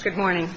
Following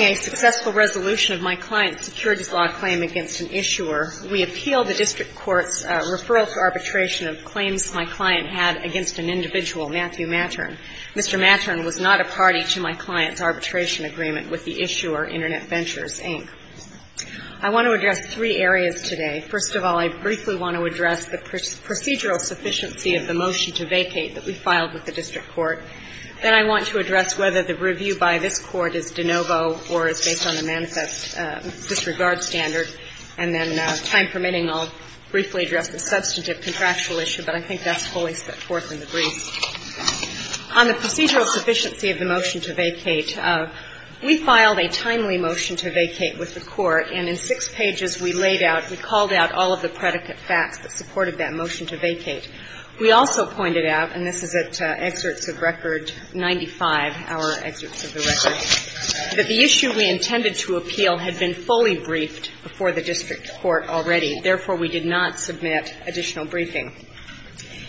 a successful resolution of my client's securities law claim against an issuer, we appealed the district court's referral to arbitration of claims my client had against an individual, Matthew Mattern. Mr. Mattern was not a party to my client's arbitration agreement with the issuer, Internet Ventures, Inc. I want to address three areas today. First of all, I briefly want to address the procedural sufficiency of the motion to vacate that we filed with the district court. Then I want to address whether the review by this court is de novo or is based on the manifest disregard standard. And then, time permitting, I'll briefly address the substantive contractual issue, but I think that's fully set forth in the brief. On the procedural sufficiency of the motion to vacate, we filed a timely motion to vacate with the court, and in six pages we laid out, we called out all of the predicate facts that supported that motion to vacate. We also pointed out, and this is at excerpts of record 95, our excerpts of the record, that the issue we intended to appeal had been fully briefed before the district court already. Therefore, we did not submit additional briefing.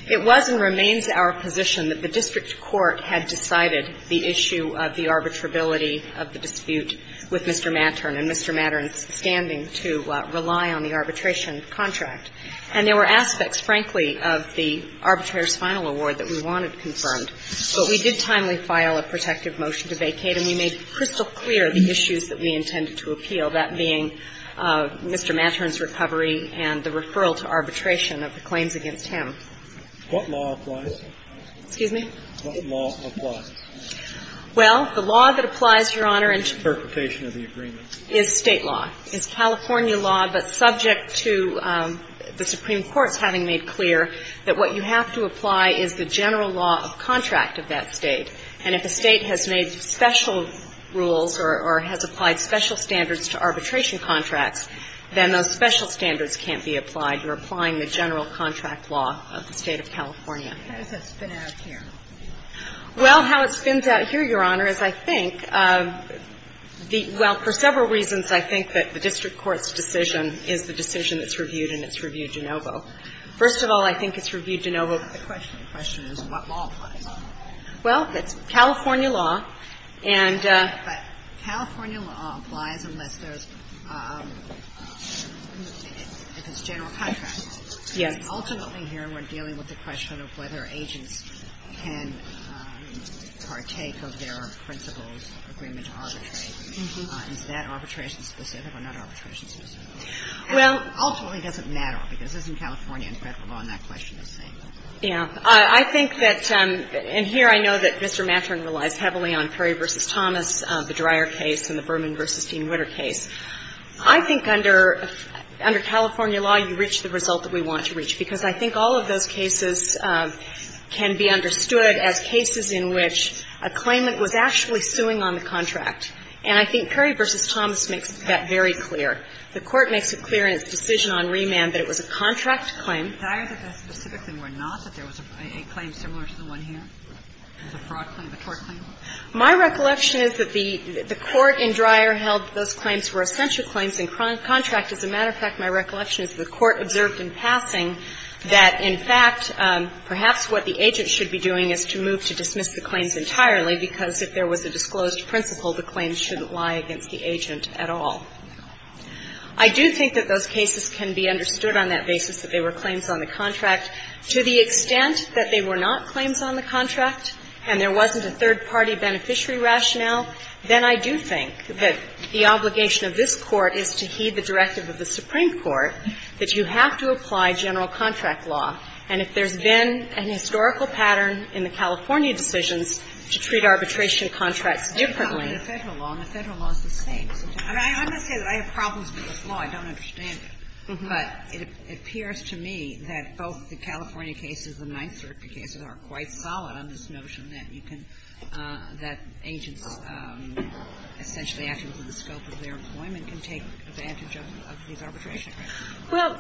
It was and remains our position that the district court had decided the issue of the arbitrability of the dispute with Mr. Mattern, and Mr. Mattern's standing to rely on the arbitration contract. And there were aspects, frankly, of the arbitrator's final award that we wanted confirmed. But we did timely file a protective motion to vacate, and we made crystal clear the issues that we intended to appeal, that being Mr. Mattern's recovery and the referral to arbitration of the claims against him. What law applies? Excuse me? What law applies? Well, the law that applies, Your Honor, into the perception of the agreement is State law. It's California law, but subject to the Supreme Court's having made clear that what you have to apply is the general law of contract of that State. And if a State has made special rules or has applied special standards to arbitration contracts, then those special standards can't be applied. You're applying the general contract law of the State of California. How does that spin out here? Well, how it spins out here, Your Honor, is I think the — well, for several reasons, I think that the district court's decision is the decision that's reviewed, and it's reviewed de novo. First of all, I think it's reviewed de novo. The question is what law applies. Well, it's California law, and — But California law applies unless there's — if it's general contract law. Yes. Ultimately here, we're dealing with the question of whether agents can partake of their principal's agreement to arbitrate. Is that arbitration-specific or not arbitration-specific? Well — Ultimately, it doesn't matter, because it's in California and Federal law, and that question is the same. Yeah. I think that — and here I know that Mr. Matron relies heavily on Perry v. Thomas, the Dreyer case, and the Berman v. Dean-Ritter case. I think under California law, you reach the result that we want to reach, because I think all of those cases can be understood as cases in which a claimant was actually suing on the contract. And I think Perry v. Thomas makes that very clear. The Court makes it clear in its decision on remand that it was a contract claim. And Dreyer, that that specifically were not, that there was a claim similar to the one here? It was a fraud claim, a tort claim? My recollection is that the — the Court in Dreyer held those claims were essential claims in contract. As a matter of fact, my recollection is the Court observed in passing that, in fact, perhaps what the agent should be doing is to move to dismiss the claims entirely, because if there was a disclosed principal, the claims shouldn't lie against the agent at all. I do think that those cases can be understood on that basis, that they were claims on the contract. To the extent that they were not claims on the contract and there wasn't a third-party beneficiary rationale, then I do think that the obligation of this Court is to heed the directive of the Supreme Court that you have to apply general contract law. And if there's been an historical pattern in the California decisions to treat arbitration contracts differently — Sotomayor, I don't want to say that I have problems with this law, I don't understand it, but it appears to me that both the California cases and the 9th Circuit cases are quite solid on this notion that you can — that agents essentially acting within the scope of their employment can take advantage of these arbitration contracts. Well,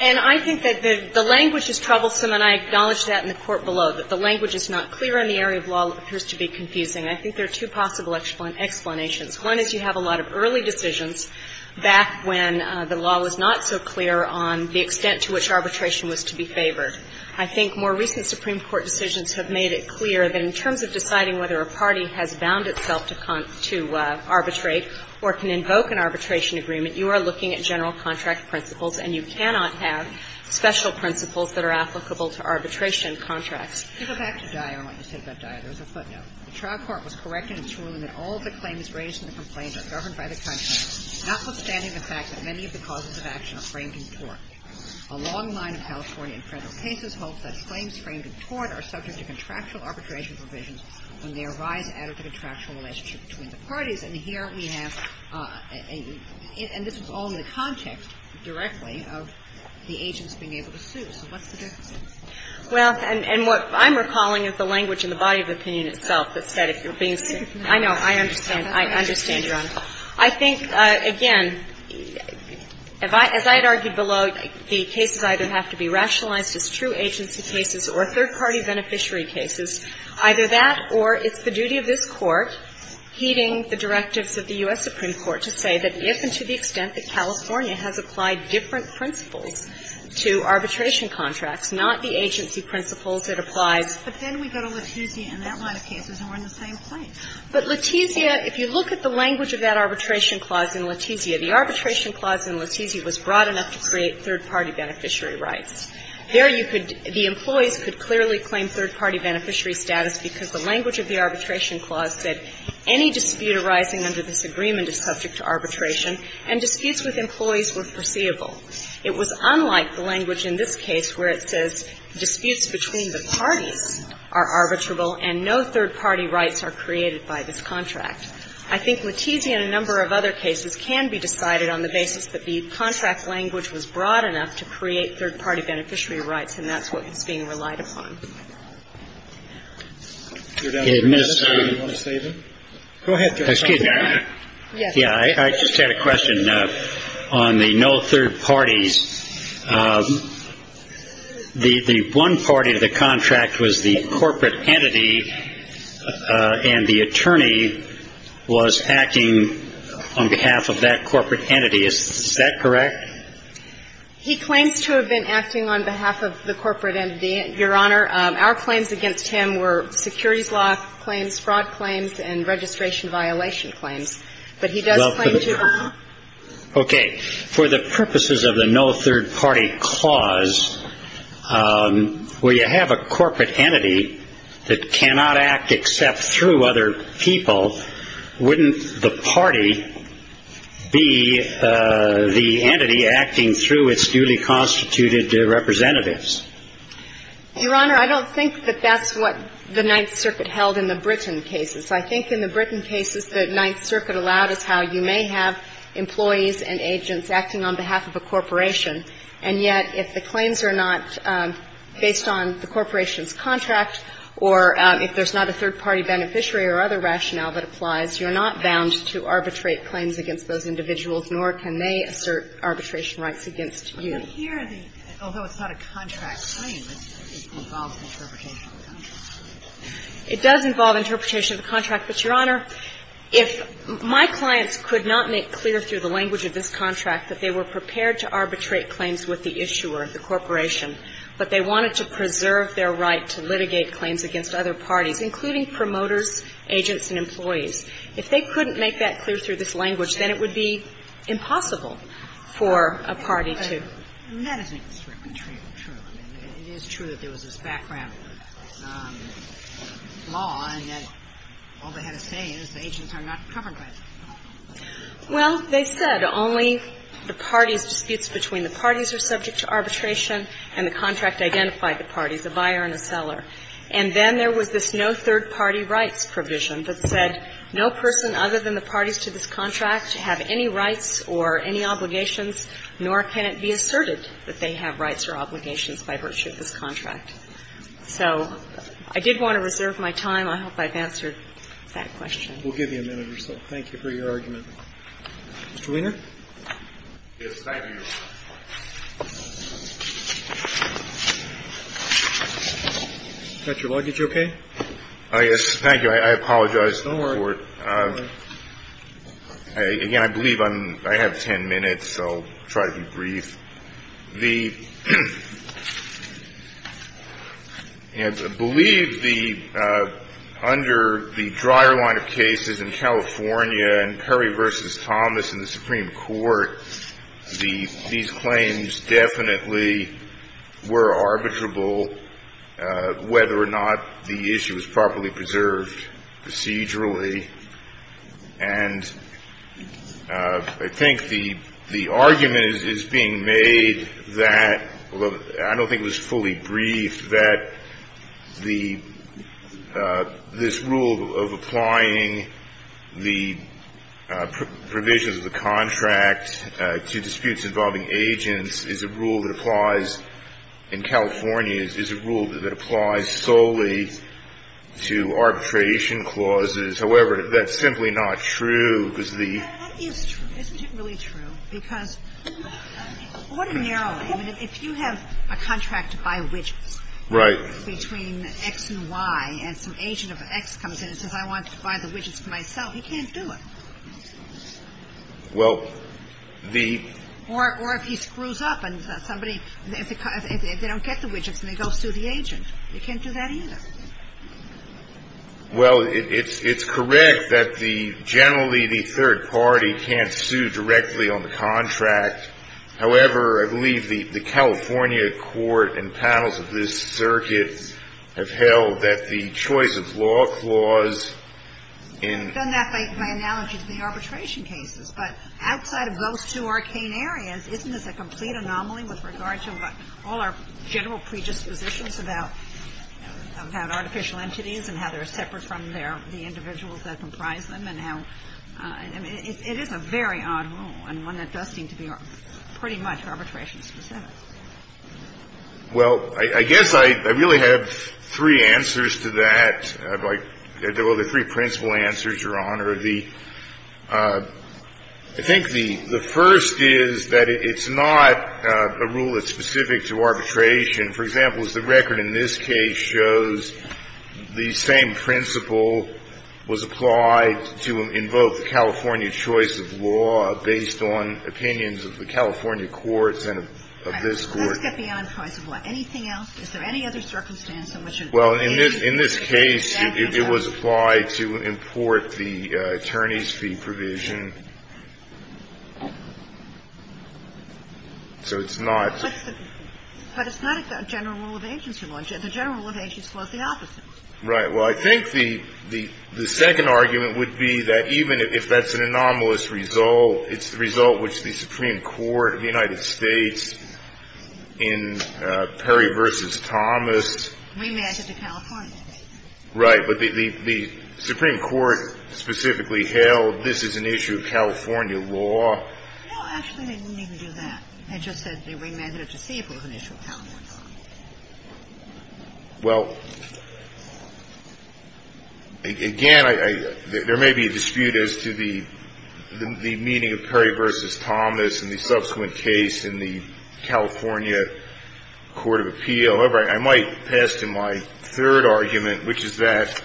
and I think that the language is troublesome, and I acknowledge that in the court below, that the language is not clear in the area of law, appears to be confusing. I think there are two possible explanations. One is you have a lot of early decisions back when the law was not so clear on the extent to which arbitration was to be favored. I think more recent Supreme Court decisions have made it clear that in terms of deciding whether a party has bound itself to arbitrate or can invoke an arbitration agreement, you are looking at general contract principles, and you cannot have special principles that are applicable to arbitration contracts. You go back to Dyer and what you said about Dyer. There was a footnote. The trial court was correct in its ruling that all of the claims raised in the complaint are governed by the contract, notwithstanding the fact that many of the causes of action are framed in tort. A long line of California and federal cases holds that claims framed in tort are subject to contractual arbitration provisions when they arise out of the contractual relationship between the parties. And here we have a — and this was all in the context directly of the agents being able to sue. So what's the difference? Well, and what I'm recalling is the language in the body of opinion itself that said if you're being sued. I know. I understand. I understand, Your Honor. I think, again, if I — as I had argued below, the cases either have to be rationalized as true agency cases or third-party beneficiary cases, either that or it's the duty of this Court, heeding the directives of the U.S. Supreme Court, to say that if and to the extent that California has applied different principles to arbitration contracts, not the agency principles that applies. But then we go to Letizia and that line of cases and we're in the same place. But Letizia, if you look at the language of that arbitration clause in Letizia, the arbitration clause in Letizia was broad enough to create third-party beneficiary rights. There you could — the employees could clearly claim third-party beneficiary status because the language of the arbitration clause said any dispute arising under this agreement is subject to arbitration, and disputes with employees were foreseeable. It was unlike the language in this case where it says disputes between the parties are arbitrable and no third-party rights are created by this contract. I think Letizia and a number of other cases can be decided on the basis that the contract language was broad enough to create third-party beneficiary rights, and that's what is being relied upon. Go ahead, Justice Kennedy. Yes. I just had a question on the no third parties. The one party of the contract was the corporate entity and the attorney was acting on behalf of that corporate entity. Is that correct? He claims to have been acting on behalf of the corporate entity, Your Honor. Our claims against him were securities law claims, fraud claims, and registration violation claims. But he does claim to have been acting on behalf of the corporate entity. Okay. For the purposes of the no third-party clause, where you have a corporate entity that cannot act except through other people, wouldn't the party be the entity acting through its duly constituted representatives? Your Honor, I don't think that that's what the Ninth Circuit held in the Britton cases. I think in the Britton cases, the Ninth Circuit allowed us how you may have employees and agents acting on behalf of a corporation, and yet if the claims are not based on the corporation's contract or if there's not a third-party beneficiary or other rationale that applies, you're not bound to arbitrate claims against those individuals, nor can they assert arbitration rights against you. But here, although it's not a contract claim, it involves interpretation of the contract. It does involve interpretation of the contract, but, Your Honor, if my clients could not make clear through the language of this contract that they were prepared to arbitrate claims with the issuer, the corporation, but they wanted to preserve their right to litigate claims against other parties, including promoters, agents, and employees, if they couldn't make that clear through this language, then it would be impossible for a party to. And that is an extremely true. I mean, it is true that there was this background law and that all they had to say is the agents are not covered by this law. Well, they said only the parties' disputes between the parties are subject to arbitration and the contract identified the parties, the buyer and the seller. And then there was this no third-party rights provision that said no person other than the parties to this contract have any rights or any obligations, nor can it be asserted that they have rights or obligations by virtue of this contract. So I did want to reserve my time. I hope I've answered that question. We'll give you a minute or so. Thank you for your argument. Mr. Wiener? Yes, thank you, Your Honor. Is that your luggage okay? Yes, thank you. I apologize to the Court. Don't worry. Again, I believe I have ten minutes, so I'll try to be brief. The – I believe the – under the drier line of cases in California and Perry v. Thomas in the Supreme Court, the – these claims definitely were arbitrable, whether or not the issue was properly preserved procedurally. And I think the argument is being made that, although I don't think it was fully briefed, that the – this rule of applying the provisions of the contract to disputes involving agents is a rule that applies in California, is a rule that applies solely to arbitration clauses. However, that's simply not true, because the – Yeah, that is true. Isn't it really true? Because ordinarily, if you have a contract to buy widgets between X and Y and some agent of X comes in and says, I want to buy the widgets for myself, he can't do it. Well, the – Or if he screws up and somebody – if they don't get the widgets and they go sue the agent, they can't do that either. Well, it's correct that the – generally, the third party can't sue directly on the contract. However, I believe the California court and panels of this circuit have held that the choice of law clause in – I've done that by analogy to the arbitration cases. But outside of those two arcane areas, isn't this a complete anomaly with regard to all our general predispositions about – about artificial entities and how they're separate from their – the individuals that comprise them and how – I mean, it is a very odd rule and one that does seem to be pretty much arbitration-specific. Well, I guess I really have three answers to that. Like, there were the three principal answers, Your Honor. The – I think the first is that it's not a rule that's specific to arbitration. For example, as the record in this case shows, the same principle was applied to invoke the California choice of law based on opinions of the California courts and of this Court. Let's get beyond choice of law. Anything else? Is there any other circumstance in which it would be? Well, in this case, it was applied to import the attorney's fee provision. So it's not – But it's not a general rule of agency law. The general rule of agency law is the opposite. Right. Well, I think the second argument would be that even if that's an anomalous result, it's the result which the Supreme Court of the United States in Perry v. Thomas remanded to California. Right. But the Supreme Court specifically held this is an issue of California law. No, actually, they didn't even do that. They just said they remanded it to see if it was an issue of California law. Well, again, I – there may be a dispute as to the meaning of Perry v. Thomas in the subsequent case in the California court of appeal. However, I might pass to my third argument, which is that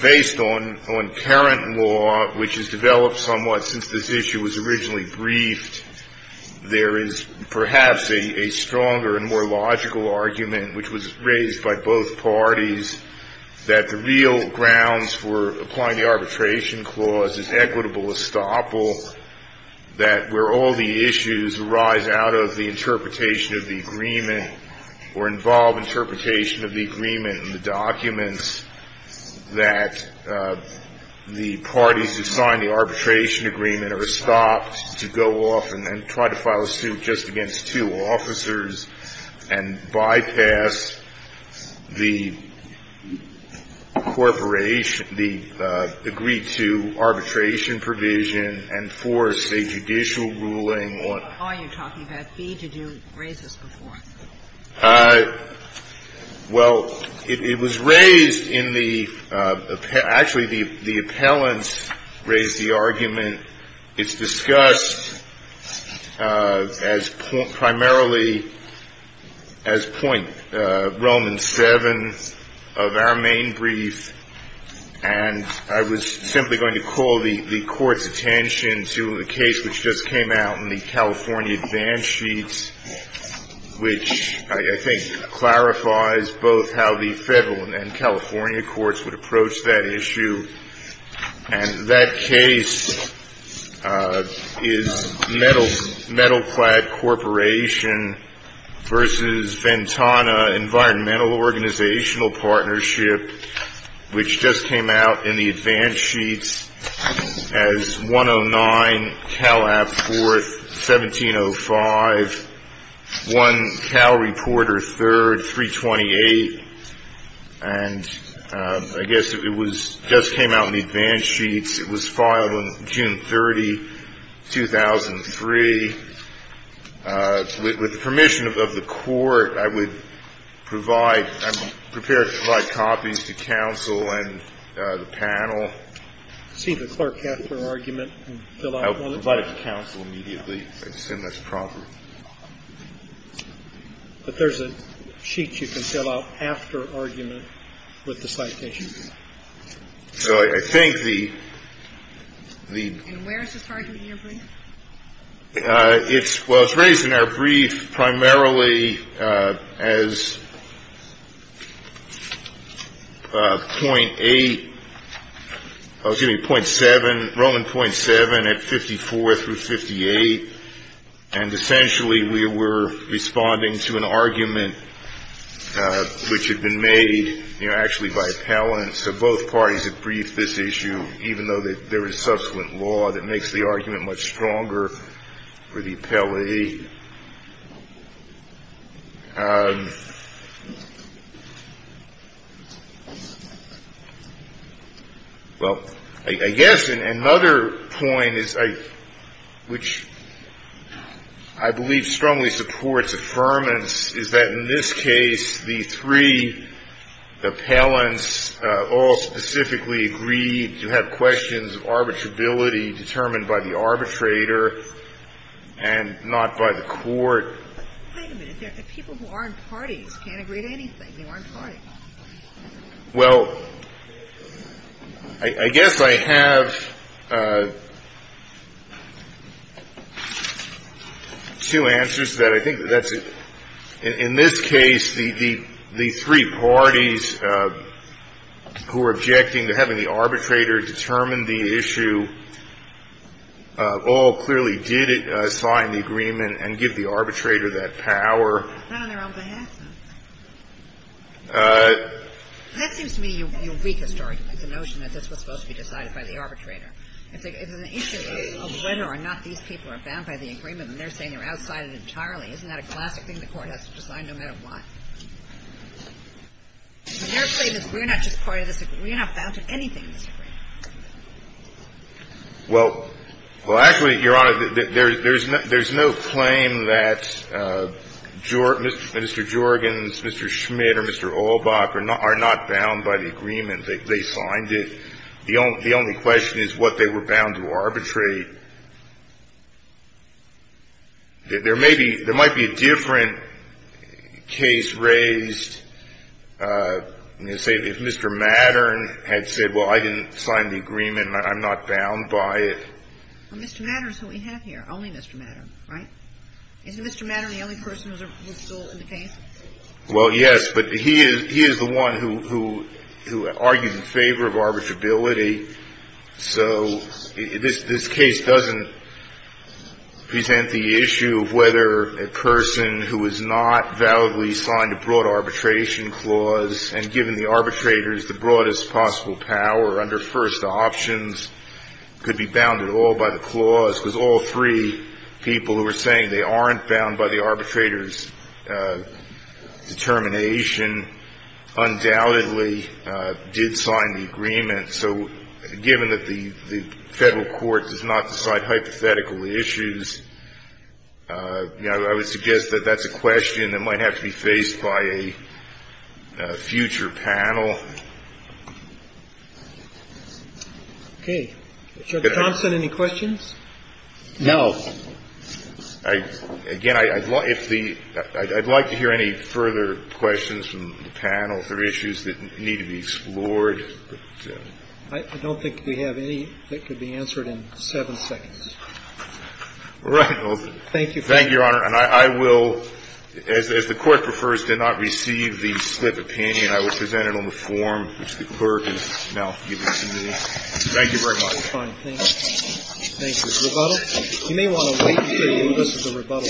based on current law, which has developed somewhat since this issue was originally briefed, there is perhaps a stronger and more logical argument, which was raised by both parties, that the real grounds for applying the arbitration clause is equitable estoppel, that where all the issues arise out of the interpretation of the agreement or involve interpretation of the agreement in the documents, that the parties who signed the arbitration agreement are stopped to go off and then try to file a suit just against two officers and bypass the corporation – the agreed-to arbitration provision and force a judicial ruling on the court. Why are you talking about B? Did you raise this before? Well, it was raised in the – actually, the appellants raised the argument. And it's discussed as – primarily as point – Roman 7 of our main brief. And I was simply going to call the court's attention to the case which just came out in the California advance sheet, which I think clarifies both how the federal and California courts would approach that issue. And that case is Metalclad Corporation v. Ventana Environmental Organizational Partnership, which just came out in the advance sheet as 109 Calab 4th, 1705, 1 Cal 4th, 1705. It was filed on June 30, 2003. With the permission of the court, I would provide – I'm prepared to provide copies to counsel and the panel. See the clerk after argument and fill out on it? I'll provide it to counsel immediately. I assume that's proper. But there's a sheet you can fill out after argument with the citation. So I think the – And where is this argument in your brief? It's – well, it's raised in our brief primarily as point 8 – excuse me, point 7, Roman point 7 at 54 through 58. And essentially we were responding to an argument which had been made, you know, actually by appellants. So both parties have briefed this issue, even though there is subsequent law that makes the argument much stronger for the appellate. The – well, I guess another point is I – which I believe strongly supports affirmance is that in this case, the three appellants all specifically agreed to have questions of arbitrability determined by the arbitrator and not by the court. Wait a minute. People who aren't parties can't agree to anything. They aren't parties. Well, I guess I have two answers to that. I think that's – in this case, the three parties who are objecting to having the arbitrator determine the issue all clearly did sign the agreement and give the arbitrator that power. Not on their own behalf, though. That seems to me your weakest argument, the notion that this was supposed to be decided by the arbitrator. If an issue of whether or not these people are bound by the agreement and they're saying they're outside it entirely, isn't that a classic thing the court has to decide no matter what? Your claim is we're not just part of this agreement. We're not bound to anything, Mr. Gray. Well, actually, Your Honor, there's no claim that Mr. Jorgens, Mr. Schmidt, or Mr. Olbach are not bound by the agreement. They signed it. The only question is what they were bound to arbitrate. There may be – there might be a different case raised, say, if Mr. Mattern had said, well, I didn't sign the agreement, I'm not bound by it. Well, Mr. Mattern is who we have here, only Mr. Mattern, right? Isn't Mr. Mattern the only person who was still in the case? Well, yes, but he is the one who argued in favor of arbitrability. So this case doesn't present the issue of whether a person who has not validly signed a broad arbitration clause and given the arbitrators the broadest possible power under first options could be bound at all by the clause, because all three people who were saying they aren't bound by the arbitrators' determination undoubtedly did sign the agreement. So given that the Federal court does not decide hypothetical issues, I would suggest that that's a question that might have to be faced by a future panel. Okay. Judge Thompson, any questions? No. Again, I'd like to hear any further questions from the panel for issues that need to be explored. I don't think we have any that could be answered in seven seconds. All right. Thank you. Thank you, Your Honor. And I will, as the Court prefers to not receive the split opinion, I will present it on the form, which the clerk will now give to the committee. Thank you very much. Thank you. You may want to wait for the rebuttal.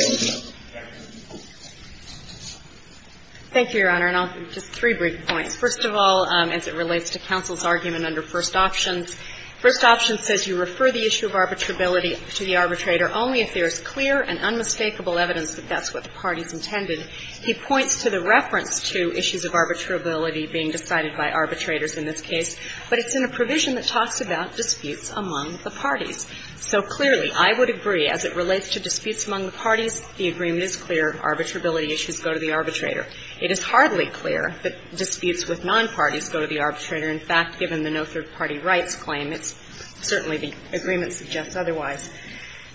Thank you, Your Honor. And I'll give just three brief points. First of all, as it relates to counsel's argument under First Options, First Options says you refer the issue of arbitrability to the arbitrator only if there is clear and unmistakable evidence that that's what the parties intended. He points to the reference to issues of arbitrability being decided by arbitrators in this case, but it's in a provision that talks about disputes among the parties. So clearly, I would agree, as it relates to disputes among the parties, the agreement is clear. Arbitrability issues go to the arbitrator. It is hardly clear that disputes with nonparties go to the arbitrator. In fact, given the no third-party rights claim, it's certainly the agreement suggests otherwise.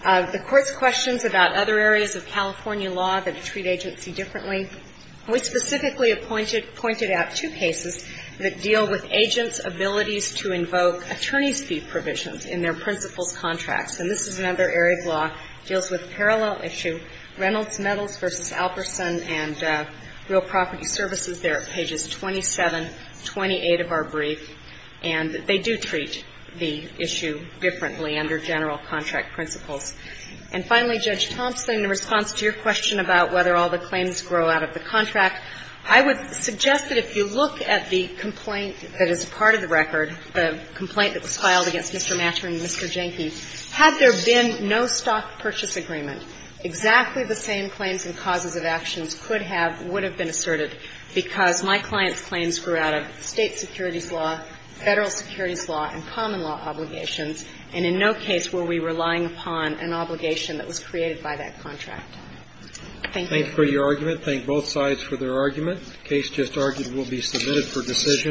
The Court's questions about other areas of California law that treat agency differently. We specifically have pointed out two cases that deal with agents' abilities to invoke attorney's fee provisions in their principal's contracts. And this is another area of law that deals with a parallel issue. Reynolds Metals v. Alperson and Real Property Services. They're at pages 27, 28 of our brief. And they do treat the issue differently under general contract principles. And finally, Judge Thompson, in response to your question about whether all the claims grow out of the contract, I would suggest that if you look at the complaint that is a part of the record, the complaint that was filed against Mr. Mather and Mr. Jenke, had there been no stock purchase agreement, exactly the same claims and causes of actions could have, would have been asserted, because my client's claims grew out of State securities law, Federal securities law, and common law obligations, and in no case were we relying upon an obligation that was created by that contract. Thank you. Thank you for your argument. Thank both sides for their argument. The case just argued will be submitted for decision.